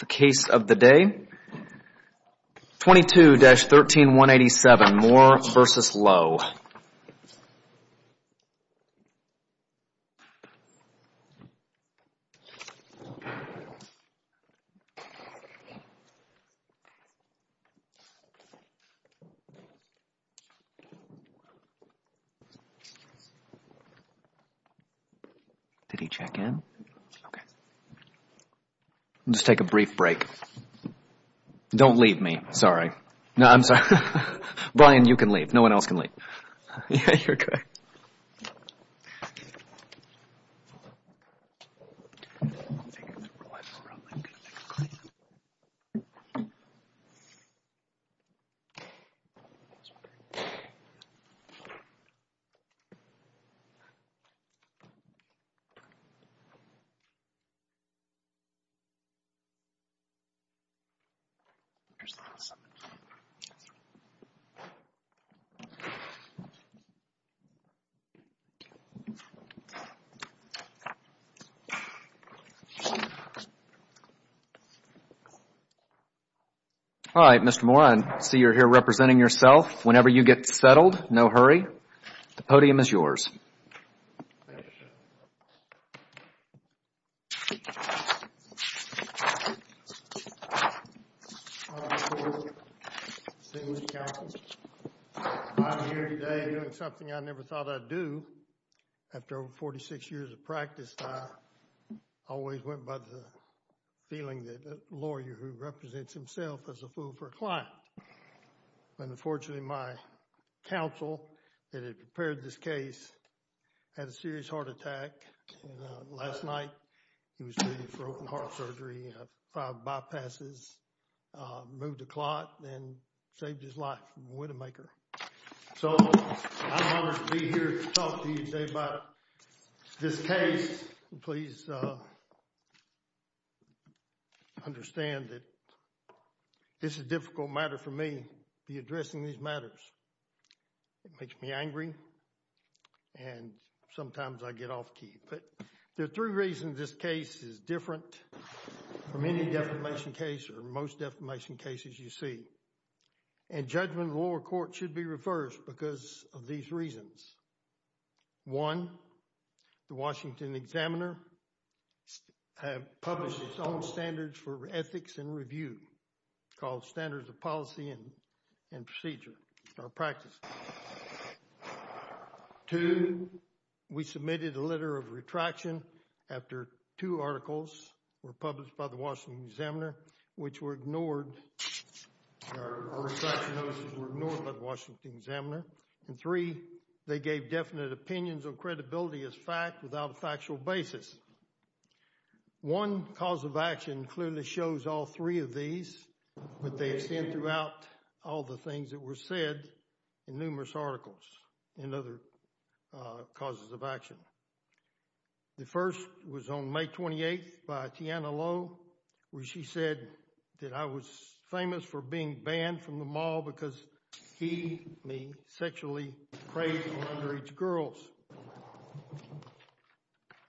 The case of the day, 22-13187, Moore v. Lowe. Did he check in? Okay. Just take a brief break. Don't leave me. Sorry. No, I'm sorry. Brian, you can leave. No one else can leave. Yeah, you're correct. All right, Mr. Moore, I see you're here representing yourself. Whenever you get settled, no hurry. The podium is yours. I'm here today doing something I never thought I'd do. After 46 years of practice, I always went by the feeling that a lawyer who represents himself is a fool for a client. Unfortunately, my counsel that had prepared this case had a serious heart attack. Last night, he was treated for open-heart surgery, five bypasses, moved the clot, and saved his life. So, I'm honored to be here to talk to you today about this case. Please understand that this is a difficult matter for me to be addressing these matters. It makes me angry, and sometimes I get off key. But there are three reasons this case is different from any defamation case or most defamation cases you see. And judgment of the lower court should be reversed because of these reasons. One, the Washington Examiner has published its own standards for ethics and review called Standards of Policy and Procedure or Practice. Two, we submitted a letter of retraction after two articles were published by the Washington Examiner, which were ignored. Our retraction notices were ignored by the Washington Examiner. And three, they gave definite opinions on credibility as fact without a factual basis. One cause of action clearly shows all three of these, but they extend throughout all the things that were said in numerous articles and other causes of action. The first was on May 28th by Tiana Lowe, where she said that I was famous for being banned from the mall because he sexually praised underage girls.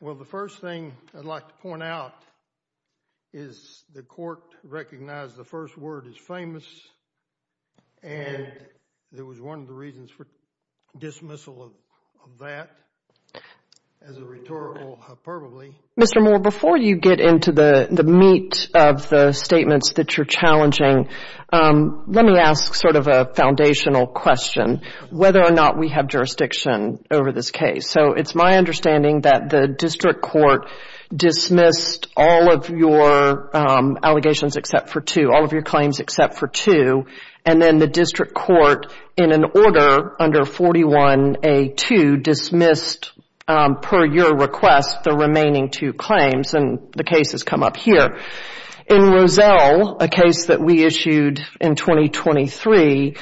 Well, the first thing I'd like to point out is the court recognized the first word as famous, and there was one of the reasons for dismissal of that as a rhetorical hyperbole. Mr. Moore, before you get into the meat of the statements that you're challenging, let me ask sort of a foundational question, whether or not we have jurisdiction over this case. So it's my understanding that the district court dismissed all of your allegations except for two, all of your claims except for two, and then the district court, in an order under 41A2, dismissed per your request the remaining two claims, and the case has come up here. In Rozelle, a case that we issued in 2023,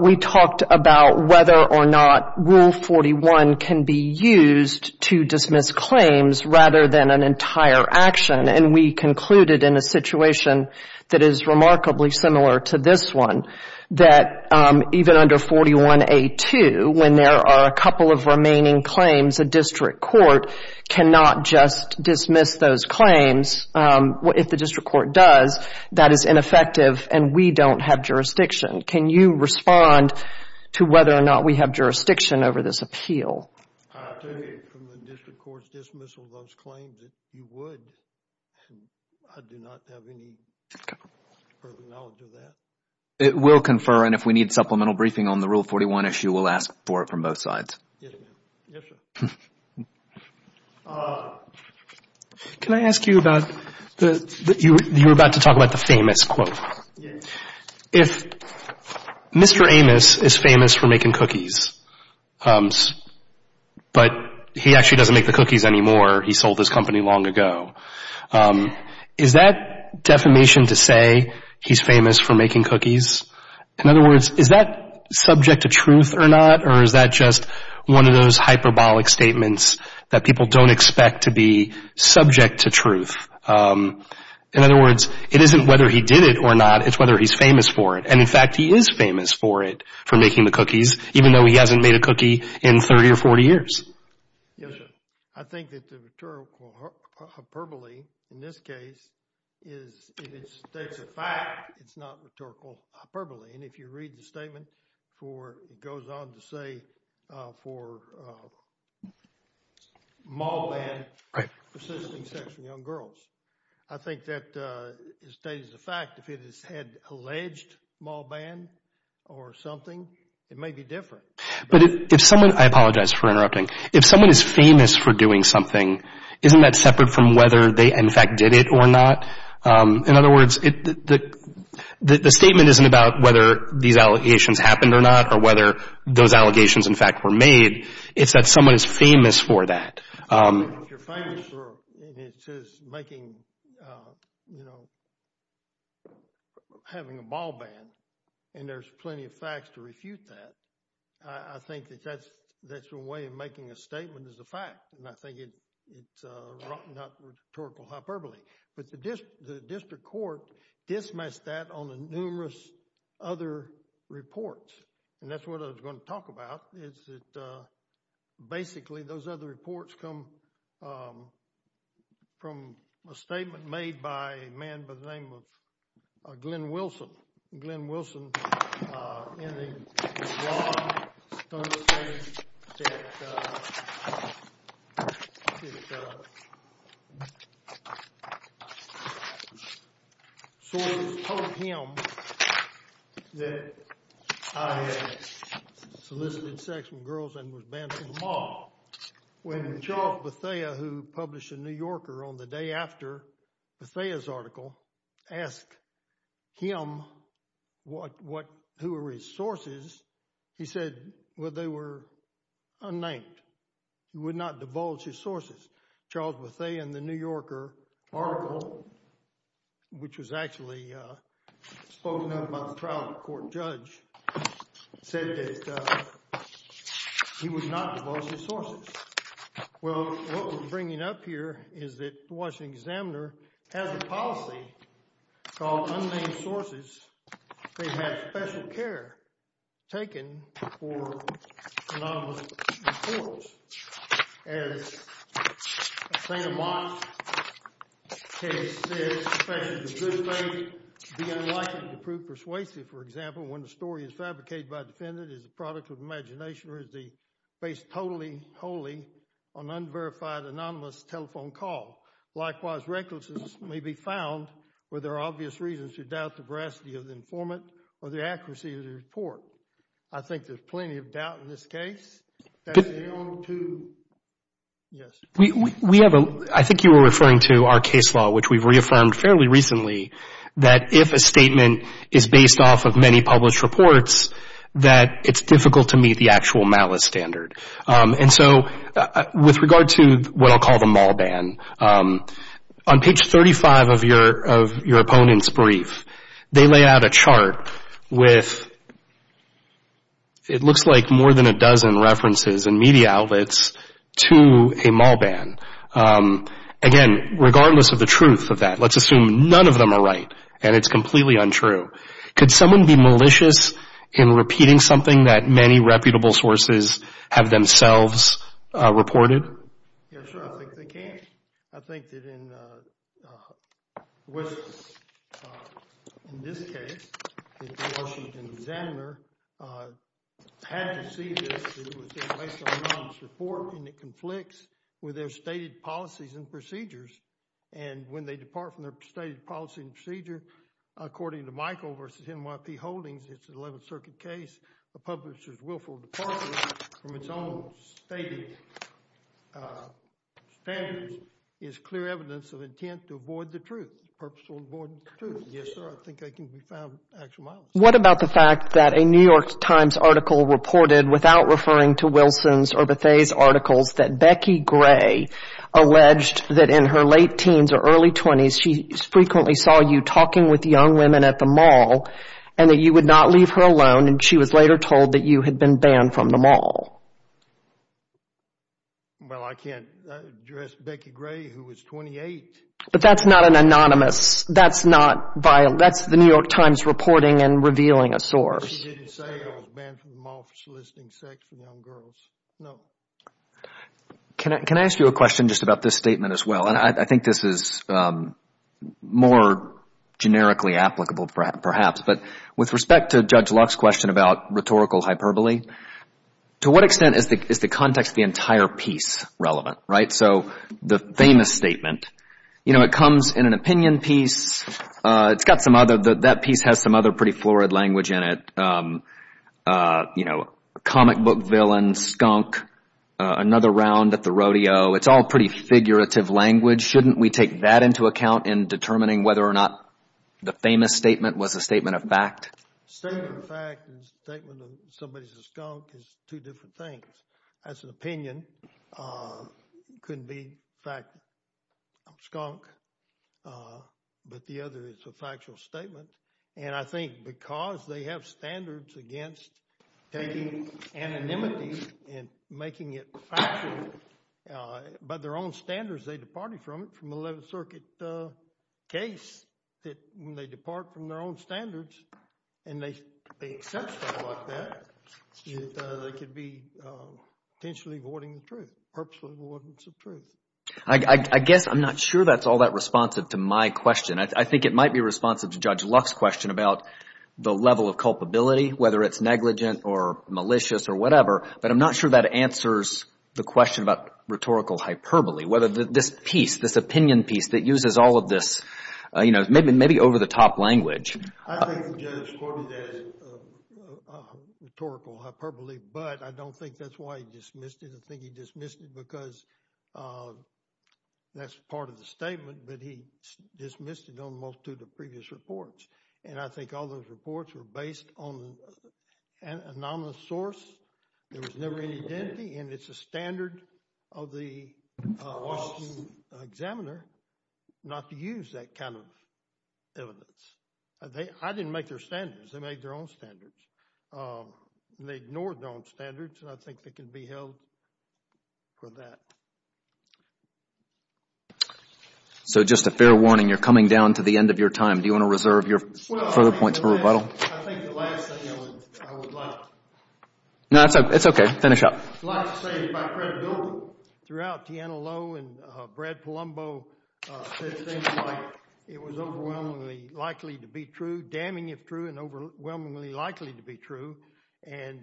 we talked about whether or not Rule 41 can be used to dismiss claims rather than an entire action, and we concluded in a situation that is remarkably similar to this one that even under 41A2, when there are a couple of remaining claims, a district court cannot just dismiss those claims. If the district court does, that is ineffective, and we don't have jurisdiction. Can you respond to whether or not we have jurisdiction over this appeal? I take it from the district court's dismissal of those claims that you would, and I do not have any further knowledge of that. It will confer, and if we need supplemental briefing on the Rule 41 issue, we'll ask for it from both sides. Yes, ma'am. Yes, sir. Can I ask you about the, you were about to talk about the famous quote. Yes. If Mr. Amos is famous for making cookies, but he actually doesn't make the cookies anymore, he sold his company long ago, is that defamation to say he's famous for making cookies? In other words, is that subject to truth or not, or is that just one of those hyperbolic statements that people don't expect to be subject to truth? In other words, it isn't whether he did it or not, it's whether he's famous for it. And, in fact, he is famous for it, for making the cookies, even though he hasn't made a cookie in 30 or 40 years. Yes, sir. I think that the rhetorical hyperbole in this case is, if it states a fact, it's not rhetorical hyperbole. And if you read the statement for, it goes on to say for mall ban, persisting sex with young girls. I think that it states a fact. If it had alleged mall ban or something, it may be different. But if someone, I apologize for interrupting, if someone is famous for doing something, isn't that separate from whether they, in fact, did it or not? In other words, the statement isn't about whether these allegations happened or not, or whether those allegations, in fact, were made, it's that someone is famous for that. If you're famous for making, you know, having a mall ban, and there's plenty of facts to refute that, I think that that's a way of making a statement as a fact. And I think it's not rhetorical hyperbole. But the district court dismissed that on numerous other reports. And that's what I was going to talk about, is that basically those other reports come from a statement made by a man by the name of Glenn Wilson. Glenn Wilson, in the blog, understands that Soros told him that I had solicited sex with girls and was banned from the mall. When Charles Bethea, who published a New Yorker on the day after Bethea's article, asked him what, who were his sources, he said, well, they were unnamed. He would not divulge his sources. Charles Bethea in the New Yorker article, which was actually spoken of by the trial court judge, said that he would not divulge his sources. Well, what we're bringing up here is that the Washington Examiner has a policy called unnamed sources. They have special care taken for anonymous reports. And I think a mock case says a defendant is a good lady. It would be unlikely to prove persuasive, for example, when the story is fabricated by a defendant as a product of imagination or is based totally wholly on unverified anonymous telephone call. Likewise, recklessness may be found where there are obvious reasons to doubt the veracity of the informant or the accuracy of the report. I think there's plenty of doubt in this case. I think you were referring to our case law, which we've reaffirmed fairly recently, that if a statement is based off of many published reports, that it's difficult to meet the actual malice standard. And so with regard to what I'll call the mall ban, on page 35 of your opponent's brief, they lay out a chart with it looks like more than a dozen references and media outlets to a mall ban. Again, regardless of the truth of that, let's assume none of them are right and it's completely untrue. Could someone be malicious in repeating something that many reputable sources have themselves reported? Yes, sir, I think they can. I think that in this case, the Washington Examiner had to see this. It was based on an anonymous report and it conflicts with their stated policies and procedures. And when they depart from their stated policy and procedure, according to Michael versus NYP Holdings, it's an 11th Circuit case. The publisher's willful departure from its own stated standards is clear evidence of intent to avoid the truth, purposeful avoidance of truth. Yes, sir, I think they can be found actual malice. What about the fact that a New York Times article reported without referring to Wilson's or Bethea's articles that Becky Gray alleged that in her late teens or early 20s she frequently saw you talking with young women at the mall and that you would not leave her alone and she was later told that you had been banned from the mall? Well, I can't address Becky Gray who was 28. But that's not an anonymous, that's the New York Times reporting and revealing a source. She didn't say I was banned from the mall for soliciting sex with young girls, no. Can I ask you a question just about this statement as well? And I think this is more generically applicable perhaps. But with respect to Judge Luck's question about rhetorical hyperbole, to what extent is the context of the entire piece relevant, right? So the famous statement, you know, it comes in an opinion piece. It's got some other, that piece has some other pretty florid language in it. You know, comic book villain, skunk, another round at the rodeo. It's all pretty figurative language. Shouldn't we take that into account in determining whether or not the famous statement was a statement of fact? Statement of fact and statement of somebody's a skunk is two different things. That's an opinion. Couldn't be fact, skunk. But the other is a factual statement. And I think because they have standards against taking anonymity and making it factual by their own standards, as they departed from it, from the 11th Circuit case, that when they depart from their own standards and they accept stuff like that, that they could be potentially avoiding the truth, purposely avoiding some truth. I guess I'm not sure that's all that responsive to my question. I think it might be responsive to Judge Luck's question about the level of culpability, whether it's negligent or malicious or whatever. But I'm not sure that answers the question about rhetorical hyperbole, whether this piece, this opinion piece that uses all of this, you know, maybe over-the-top language. I think Judge Corbyn has rhetorical hyperbole, but I don't think that's why he dismissed it. I think he dismissed it because that's part of the statement, but he dismissed it on most of the previous reports. And I think all those reports were based on an anonymous source. There was never any identity, and it's a standard of the Washington Examiner not to use that kind of evidence. I didn't make their standards. They made their own standards. They ignored their own standards, and I think they can be held for that. So just a fair warning, you're coming down to the end of your time. Do you want to reserve your further points for rebuttal? I think the last thing I would like to say is about credibility. Throughout, Tiana Lowe and Brad Palumbo said things like it was overwhelmingly likely to be true, damning if true, and overwhelmingly likely to be true. And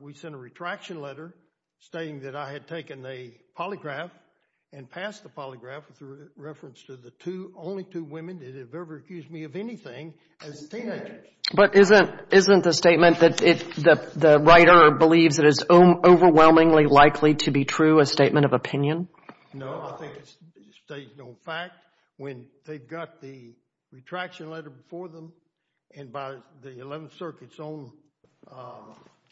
we sent a retraction letter stating that I had taken a polygraph and passed the polygraph with reference to the only two women that have ever accused me of anything as teenagers. But isn't the statement that the writer believes it is overwhelmingly likely to be true a statement of opinion? No, I think it states no fact. When they got the retraction letter before them and by the 11th Circuit's own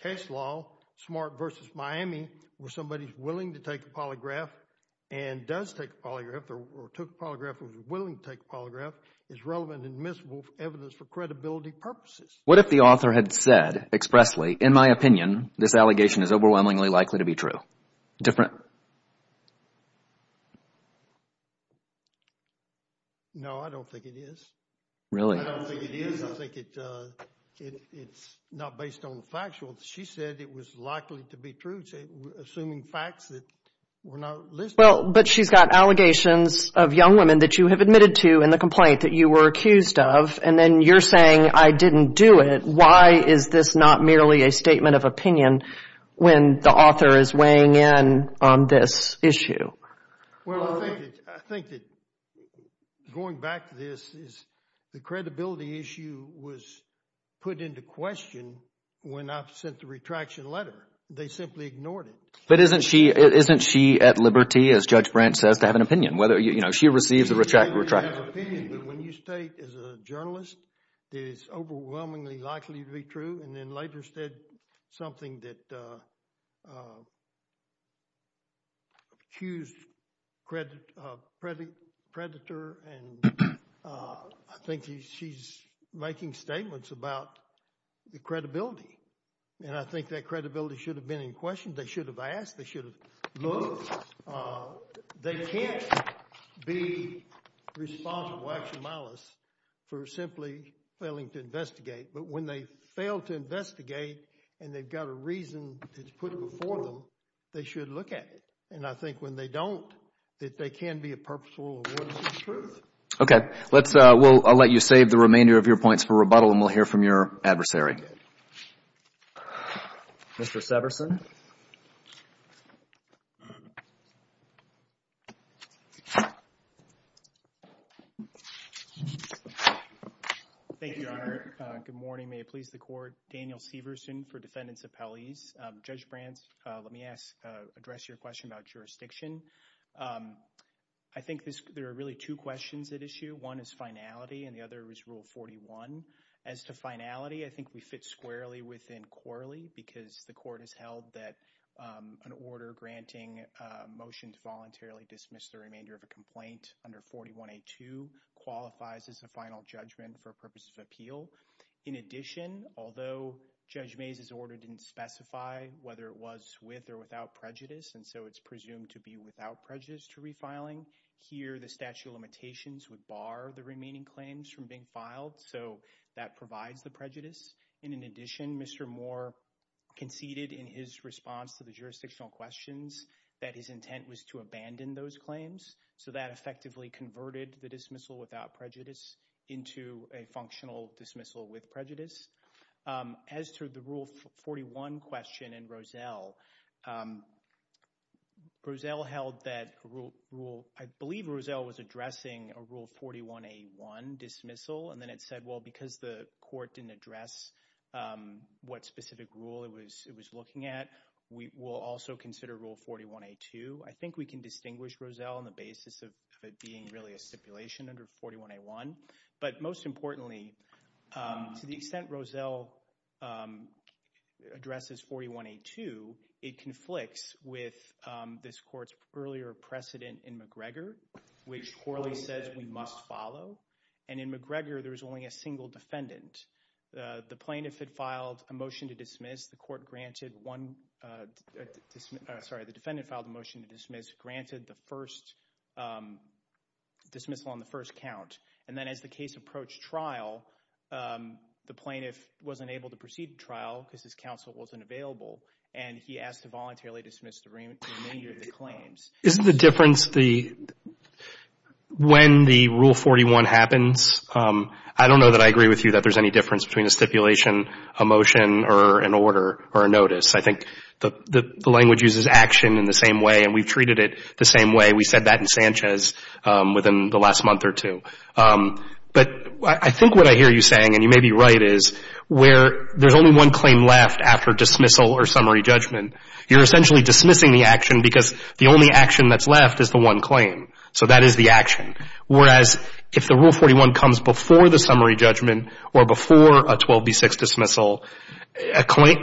case law, Smart v. Miami, where somebody's willing to take a polygraph and does take a polygraph, or took a polygraph and was willing to take a polygraph, is relevant and admissible evidence for credibility purposes. What if the author had said expressly, in my opinion, this allegation is overwhelmingly likely to be true? No, I don't think it is. Really? I don't think it is. I think it's not based on the factual. She said it was likely to be true, assuming facts that were not listed. Well, but she's got allegations of young women that you have admitted to in the complaint that you were accused of, and then you're saying I didn't do it. Why is this not merely a statement of opinion when the author is weighing in on this issue? Well, I think that going back to this is the credibility issue was put into question when I sent the retraction letter. They simply ignored it. But isn't she at liberty, as Judge Branch says, to have an opinion? Whether, you know, she receives the retraction letter. When you state as a journalist that it's overwhelmingly likely to be true, and then later said something that accused Predator, and I think she's making statements about the credibility. And I think that credibility should have been in question. They should have asked. They should have looked. They can't be responsible, actually, for simply failing to investigate. But when they fail to investigate and they've got a reason that's put before them, they should look at it. And I think when they don't, that they can be a purposeful awardist of truth. Okay. Let's – I'll let you save the remainder of your points for rebuttal, and we'll hear from your adversary. Mr. Severson. Thank you, Your Honor. Good morning. May it please the court. Daniel Severson for defendants' appellees. Judge Branch, let me address your question about jurisdiction. I think there are really two questions at issue. One is finality, and the other is Rule 41. As to finality, I think we fit squarely within Corley because the court has held that an order granting a motion to voluntarily dismiss the remainder of a complaint under 41A2 qualifies as a final judgment for purposes of appeal. In addition, although Judge Mays' order didn't specify whether it was with or without prejudice, and so it's presumed to be without prejudice to refiling, here the statute of limitations would bar the remaining claims from being filed. So that provides the prejudice. And in addition, Mr. Moore conceded in his response to the jurisdictional questions that his intent was to abandon those claims. So that effectively converted the dismissal without prejudice into a functional dismissal with prejudice. As to the Rule 41 question in Rozelle, Rozelle held that Rule ‑‑ I believe Rozelle was addressing a Rule 41A1 dismissal, and then it said, well, because the court didn't address what specific rule it was looking at, we'll also consider Rule 41A2. I think we can distinguish Rozelle on the basis of it being really a stipulation under 41A1. But most importantly, to the extent Rozelle addresses 41A2, it conflicts with this court's earlier precedent in McGregor, which poorly says we must follow. And in McGregor, there was only a single defendant. The plaintiff had filed a motion to dismiss. The court granted one ‑‑ sorry, the defendant filed a motion to dismiss, granted the first dismissal on the first count. And then as the case approached trial, the plaintiff wasn't able to proceed to trial because his counsel wasn't available, and he asked to voluntarily dismiss the remainder of the claims. Isn't the difference when the Rule 41 happens? I don't know that I agree with you that there's any difference between a stipulation, a motion, or an order or a notice. I think the language uses action in the same way, and we've treated it the same way. We said that in Sanchez within the last month or two. But I think what I hear you saying, and you may be right, is where there's only one claim left after dismissal or summary judgment, you're essentially dismissing the action because the only action that's left is the one claim. So that is the action. Whereas if the Rule 41 comes before the summary judgment or before a 12B6 dismissal,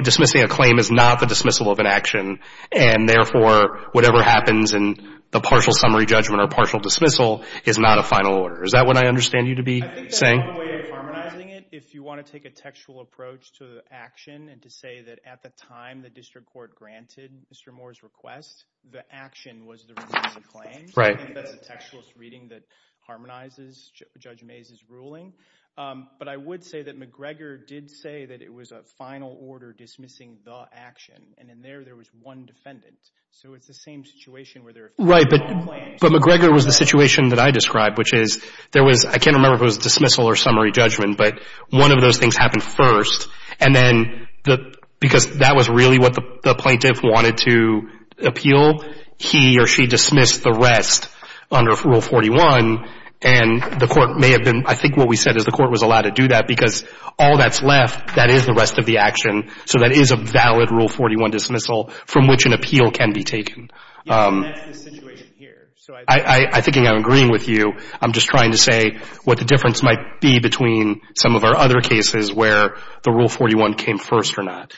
dismissing a claim is not the dismissal of an action, and therefore whatever happens in the partial summary judgment or partial dismissal is not a final order. Is that what I understand you to be saying? I think there's one way of harmonizing it if you want to take a textual approach to the action and to say that at the time the district court granted Mr. Moore's request, the action was the remainder of the claim. Right. I think that's a textualist reading that harmonizes Judge Mays' ruling. But I would say that McGregor did say that it was a final order dismissing the action, and in there there was one defendant. So it's the same situation where there are three claims. Right. But McGregor was the situation that I described, which is there was – I can't remember if it was dismissal or summary judgment, but one of those things happened first. And then because that was really what the plaintiff wanted to appeal, he or she dismissed the rest under Rule 41. And the court may have been – I think what we said is the court was allowed to do that because all that's left, that is the rest of the action. So that is a valid Rule 41 dismissal from which an appeal can be taken. Yes, and that's the situation here. So I think I'm agreeing with you. I'm just trying to say what the difference might be between some of our other cases where the Rule 41 came first or not.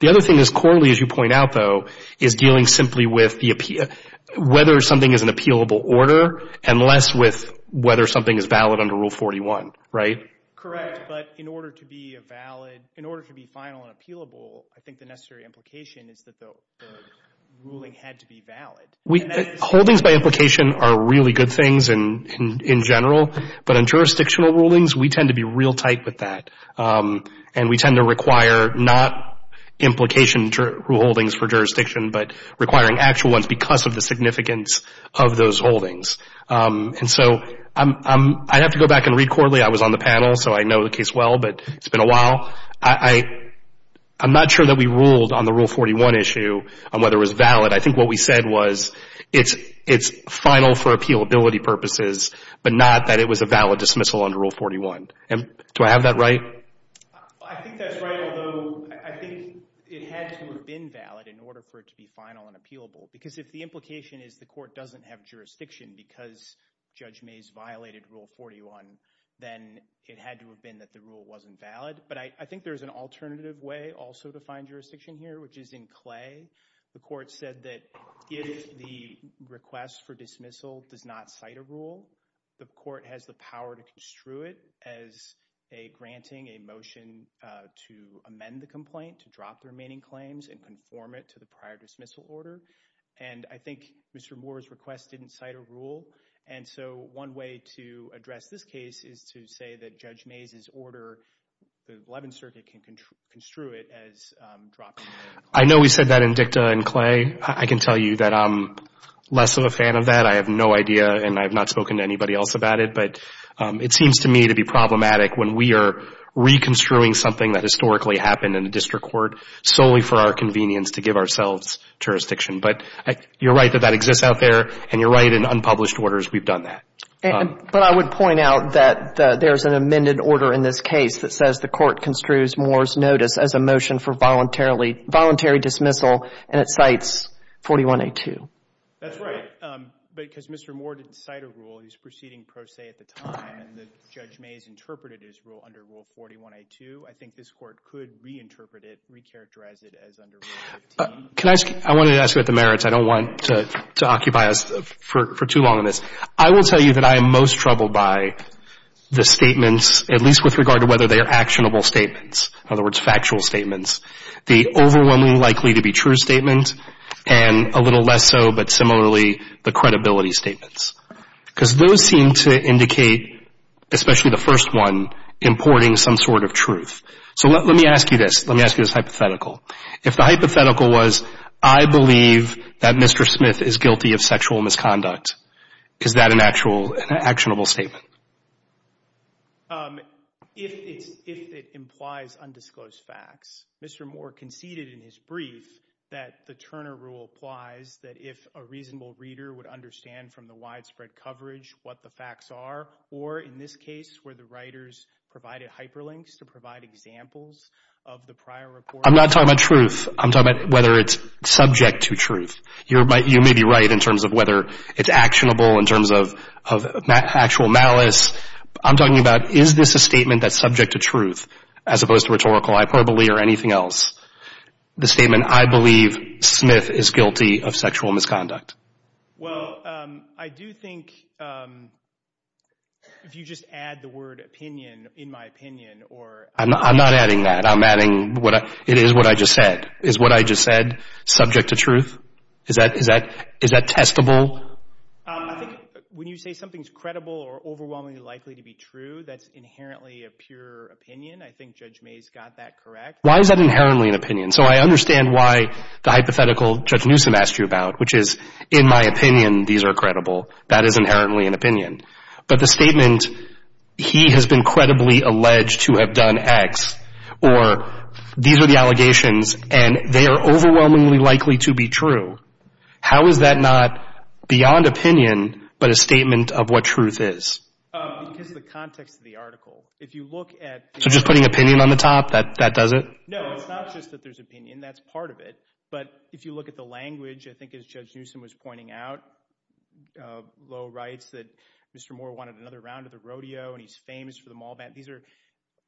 The other thing is Corley, as you point out, though, is dealing simply with the – whether something is an appealable order and less with whether something is valid under Rule 41, right? Correct. But in order to be a valid – in order to be final and appealable, I think the necessary implication is that the ruling had to be valid. Holdings by implication are really good things in general. But in jurisdictional rulings, we tend to be real tight with that. And we tend to require not implication rule holdings for jurisdiction, but requiring actual ones because of the significance of those holdings. And so I have to go back and read Corley. I was on the panel, so I know the case well, but it's been a while. I'm not sure that we ruled on the Rule 41 issue on whether it was valid. I think what we said was it's final for appealability purposes, but not that it was a valid dismissal under Rule 41. Do I have that right? I think that's right, although I think it had to have been valid in order for it to be final and appealable because if the implication is the court doesn't have jurisdiction because Judge Mays violated Rule 41, then it had to have been that the rule wasn't valid. But I think there's an alternative way also to find jurisdiction here, which is in Clay. The court said that if the request for dismissal does not cite a rule, the court has the power to construe it as granting a motion to amend the complaint, to drop the remaining claims and conform it to the prior dismissal order. And I think Mr. Moore's request didn't cite a rule, and so one way to address this case is to say that Judge Mays' order, the Levin Circuit can construe it as dropping the complaint. I know we said that in Dicta and Clay. I can tell you that I'm less of a fan of that. I have no idea, and I have not spoken to anybody else about it. But it seems to me to be problematic when we are reconstruing something that historically happened in a district court solely for our convenience to give ourselves jurisdiction. But you're right that that exists out there, and you're right in unpublished orders we've done that. But I would point out that there's an amended order in this case that says the court construes Moore's notice as a motion for voluntary dismissal, and it cites 41A2. That's right, because Mr. Moore didn't cite a rule. He was proceeding pro se at the time, and Judge Mays interpreted his rule under Rule 41A2. I think this Court could reinterpret it, recharacterize it as under Rule 15. I wanted to ask about the merits. I don't want to occupy us for too long on this. I will tell you that I am most troubled by the statements, at least with regard to whether they are actionable statements, in other words, factual statements. The overwhelmingly likely to be true statement, and a little less so, but similarly, the credibility statements. Because those seem to indicate, especially the first one, importing some sort of truth. So let me ask you this. Let me ask you this hypothetical. If the hypothetical was, I believe that Mr. Smith is guilty of sexual misconduct, is that an actual actionable statement? If it implies undisclosed facts, Mr. Moore conceded in his brief that the Turner Rule applies that if a reasonable reader would understand from the widespread coverage what the facts are, or in this case where the writers provided hyperlinks to provide examples of the prior report. I'm not talking about truth. I'm talking about whether it's subject to truth. You may be right in terms of whether it's actionable, in terms of actual malice. I'm talking about is this a statement that's subject to truth, as opposed to rhetorical, hyperbole, or anything else. The statement, I believe Smith is guilty of sexual misconduct. Well, I do think if you just add the word opinion, in my opinion. I'm not adding that. I'm adding it is what I just said. Is what I just said subject to truth? Is that testable? I think when you say something's credible or overwhelmingly likely to be true, that's inherently a pure opinion. I think Judge Mays got that correct. Why is that inherently an opinion? So I understand why the hypothetical Judge Newsom asked you about, which is, in my opinion, these are credible. That is inherently an opinion. But the statement, he has been credibly alleged to have done X, or these are the allegations, and they are overwhelmingly likely to be true. How is that not beyond opinion, but a statement of what truth is? Because of the context of the article. If you look at the article. So just putting opinion on the top, that does it? No, it's not just that there's opinion. That's part of it. But if you look at the language, I think as Judge Newsom was pointing out, Lowe writes that Mr. Moore wanted another round of the rodeo, and he's famous for the mall ban. These are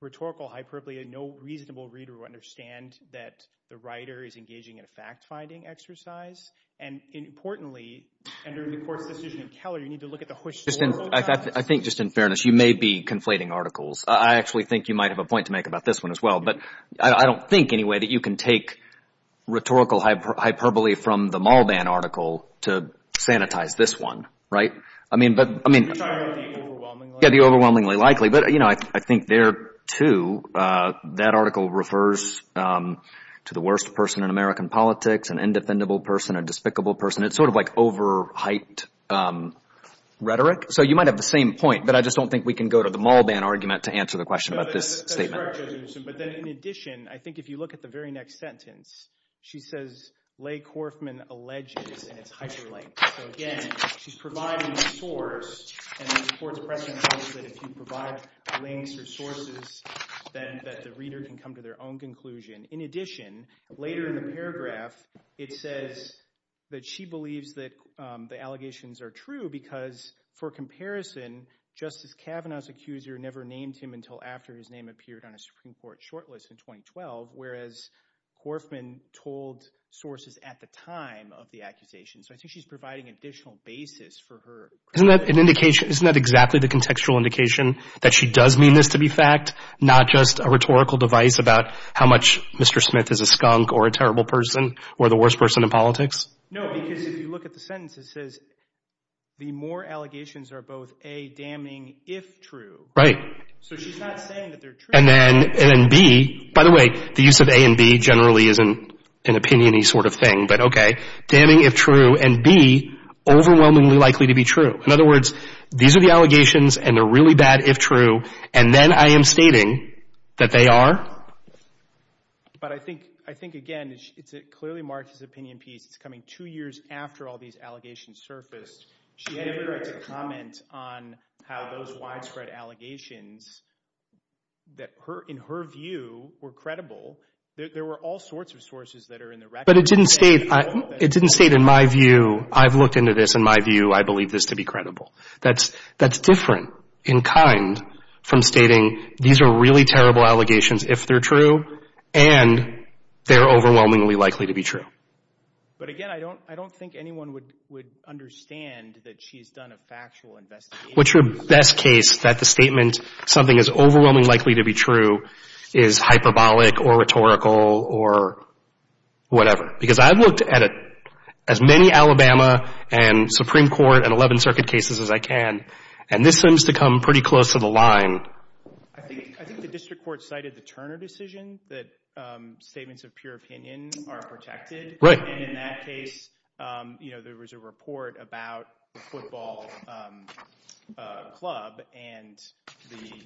rhetorical hyperbole. No reasonable reader would understand that the writer is engaging in a fact-finding exercise. And importantly, under the court's decision in Keller, you need to look at the hushed story. I think just in fairness, you may be conflating articles. I actually think you might have a point to make about this one as well. But I don't think anyway that you can take rhetorical hyperbole from the mall ban article to sanitize this one. Right? You're talking about the overwhelmingly likely? Yeah, the overwhelmingly likely. But, you know, I think there, too, that article refers to the worst person in American politics, an indefendable person, a despicable person. It's sort of like overhyped rhetoric. So you might have the same point, but I just don't think we can go to the mall ban argument to answer the question about this statement. That's correct, Judge Newsom. But then in addition, I think if you look at the very next sentence, she says, and it's hyperlinked. So, again, she's providing a source, and the court's precedent holds that if you provide links or sources, then that the reader can come to their own conclusion. In addition, later in the paragraph, it says that she believes that the allegations are true because for comparison, Justice Kavanaugh's accuser never named him until after his name appeared on a Supreme Court shortlist in 2012, whereas Horfman told sources at the time of the accusation. So I think she's providing an additional basis for her. Isn't that an indication? Isn't that exactly the contextual indication that she does mean this to be fact, not just a rhetorical device about how much Mr. Smith is a skunk or a terrible person or the worst person in politics? No, because if you look at the sentence, it says the more allegations are both, A, damning if true. Right. So she's not saying that they're true. And then B, by the way, the use of A and B generally isn't an opinion-y sort of thing, but okay, damning if true, and B, overwhelmingly likely to be true. In other words, these are the allegations, and they're really bad if true, and then I am stating that they are? But I think, again, it clearly marks his opinion piece. It's coming two years after all these allegations surfaced. She had never had to comment on how those widespread allegations that, in her view, were credible. There were all sorts of sources that are in the record. But it didn't state, in my view, I've looked into this, in my view, I believe this to be credible. That's different in kind from stating these are really terrible allegations if they're true, and they're overwhelmingly likely to be true. But, again, I don't think anyone would understand that she's done a factual investigation. What's your best case that the statement something is overwhelmingly likely to be true is hyperbolic or rhetorical or whatever? Because I've looked at as many Alabama and Supreme Court and 11th Circuit cases as I can, and this seems to come pretty close to the line. I think the district court cited the Turner decision that statements of pure opinion are protected. In that case, there was a report about the football club and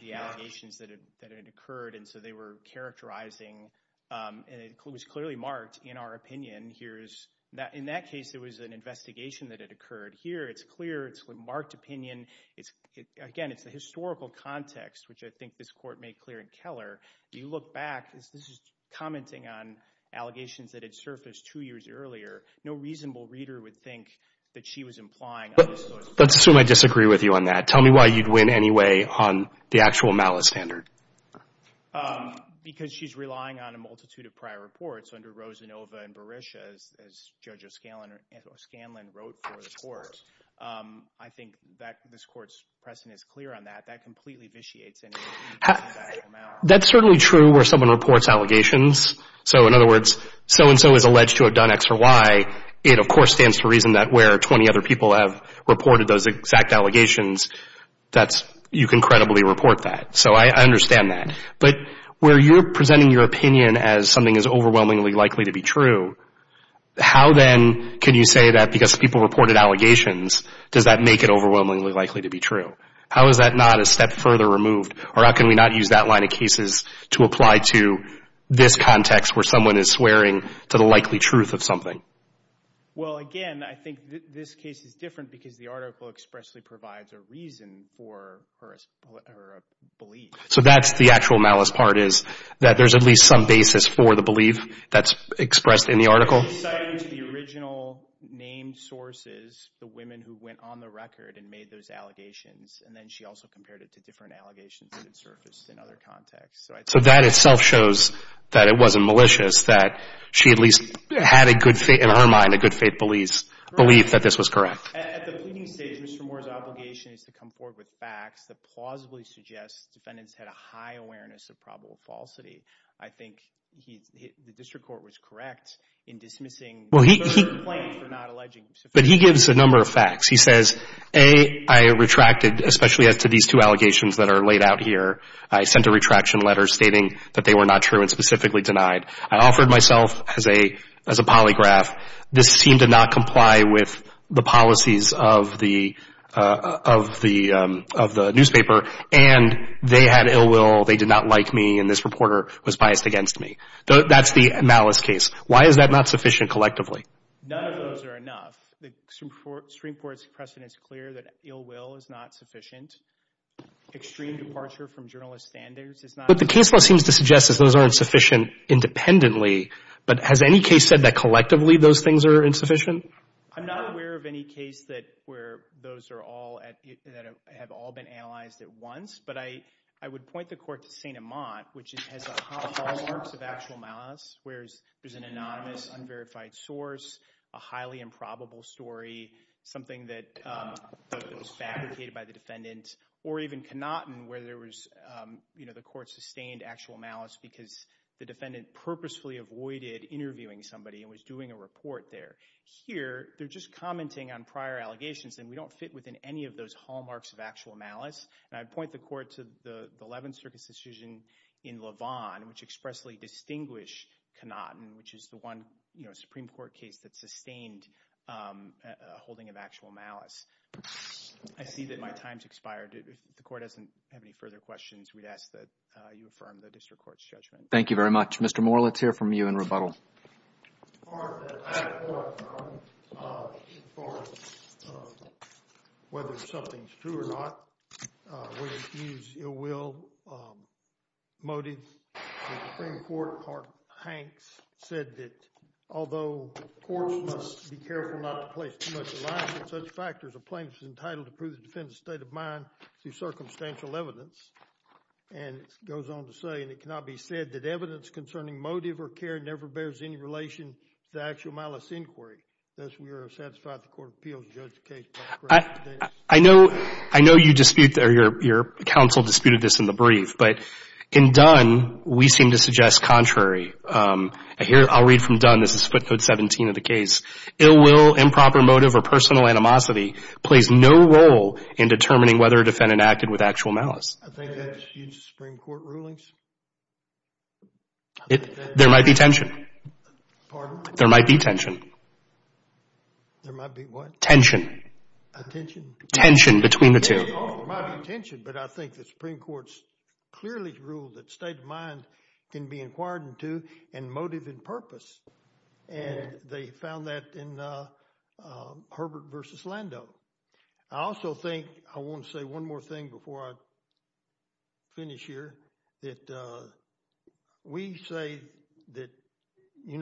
the allegations that had occurred, and so they were characterizing, and it was clearly marked in our opinion. In that case, it was an investigation that had occurred. Here, it's clear. It's a marked opinion. Again, it's the historical context, which I think this court made clear in Keller. If you look back, this is commenting on allegations that had surfaced two years earlier. No reasonable reader would think that she was implying on this sort of thing. Let's assume I disagree with you on that. Tell me why you'd win anyway on the actual malice standard. Because she's relying on a multitude of prior reports under Rosanova and Berisha, as Judge O'Scanlan wrote for the court. I think that this court's precedent is clear on that. That completely vitiates any of the factual malice. That's certainly true where someone reports allegations. So, in other words, so-and-so is alleged to have done X or Y. It, of course, stands to reason that where 20 other people have reported those exact allegations, you can credibly report that. So I understand that. But where you're presenting your opinion as something that's overwhelmingly likely to be true, how then can you say that because people reported allegations, does that make it overwhelmingly likely to be true? How is that not a step further removed, or how can we not use that line of cases to apply to this context where someone is swearing to the likely truth of something? Well, again, I think this case is different because the article expressly provides a reason for her belief. So that's the actual malice part is that there's at least some basis for the belief that's expressed in the article? She cited the original named sources, the women who went on the record and made those allegations, and then she also compared it to different allegations that had surfaced in other contexts. So that itself shows that it wasn't malicious, that she at least had in her mind a good faith belief that this was correct. At the pleading stage, Mr. Moore's obligation is to come forward with facts that plausibly suggest defendants had a high awareness of probable falsity. I think the district court was correct in dismissing the complaint for not alleging suffocation. But he gives a number of facts. He says, A, I retracted, especially as to these two allegations that are laid out here. I sent a retraction letter stating that they were not true and specifically denied. I offered myself as a polygraph. This seemed to not comply with the policies of the newspaper, and they had ill will, they did not like me, and this reporter was biased against me. That's the malice case. Why is that not sufficient collectively? None of those are enough. The Supreme Court's precedent is clear that ill will is not sufficient. Extreme departure from journalist standards is not sufficient. What the case law seems to suggest is those aren't sufficient independently, but has any case said that collectively those things are insufficient? I'm not aware of any case where those have all been analyzed at once, but I would point the court to St. Amant, which has hallmarks of actual malice, where there's an anonymous, unverified source, a highly improbable story, something that was fabricated by the defendant, or even Connaughton where the court sustained actual malice because the defendant purposefully avoided interviewing somebody and was doing a report there. Here, they're just commenting on prior allegations, and we don't fit within any of those hallmarks of actual malice, and I'd point the court to the Eleventh Circuit's decision in LaVon, which expressly distinguished Connaughton, which is the one Supreme Court case that sustained a holding of actual malice. I see that my time has expired. If the court doesn't have any further questions, we'd ask that you affirm the district court's judgment. Thank you very much. Mr. Moore, let's hear from you in rebuttal. As far as whether something's true or not, we use ill-will motives. The Supreme Court, part Hanks, said that although courts must be careful not to place too much reliance on such factors, a plaintiff is entitled to prove the defendant's state of mind through circumstantial evidence, and it goes on to say, and it cannot be said that evidence concerning motive or care never bears any relation to actual malice inquiry. Thus, we are satisfied the Court of Appeals has judged the case. I know you dispute, or your counsel disputed this in the brief, but in Dunn, we seem to suggest contrary. Here, I'll read from Dunn. This is footnote 17 of the case. Ill-will, improper motive, or personal animosity plays no role in determining whether a defendant acted with actual malice. I think that's used in Supreme Court rulings. There might be tension. Pardon? There might be tension. There might be what? Tension. A tension? Tension between the two. Oh, there might be tension, but I think the Supreme Court's clearly ruled that state of mind can be inquired into and motive and purpose, and they found that in Herbert v. Lando. I also think, I want to say one more thing before I finish here, that we say that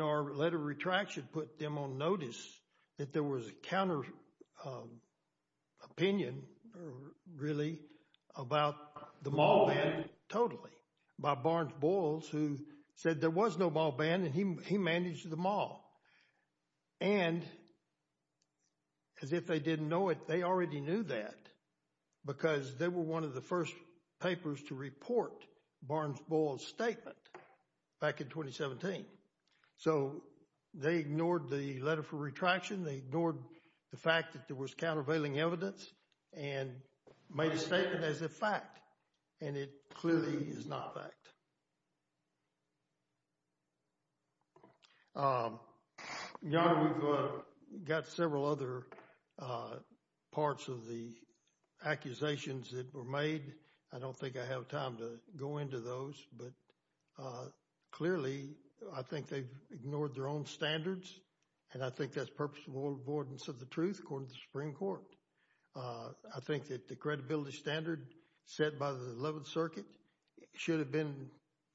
our letter of retraction put them on notice that there was a counter opinion, really, about the mall ban totally by Barnes-Boyles, who said there was no mall ban and he managed the mall. And as if they didn't know it, they already knew that because they were one of the first papers to report Barnes-Boyles' statement back in 2017. So they ignored the letter for retraction. They ignored the fact that there was countervailing evidence and made a statement as a fact, and it clearly is not a fact. Your Honor, we've got several other parts of the accusations that were made. I don't think I have time to go into those, but clearly I think they've ignored their own standards, and I think that's purposeful avoidance of the truth, according to the Supreme Court. I think that the credibility standard set by the 11th Circuit should have been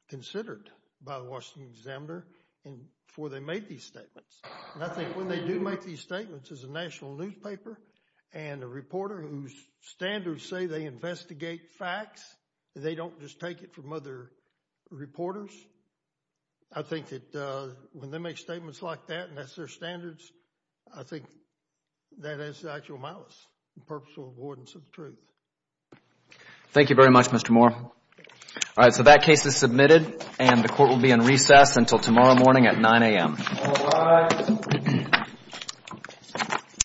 considered by the Washington Examiner before they made these statements. And I think when they do make these statements as a national newspaper and a reporter whose standards say they investigate facts, they don't just take it from other reporters. I think that when they make statements like that and that's their standards, I think that is actual malice and purposeful avoidance of the truth. Thank you very much, Mr. Moore. All right, so that case is submitted, and the Court will be in recess until tomorrow morning at 9 a.m. All rise.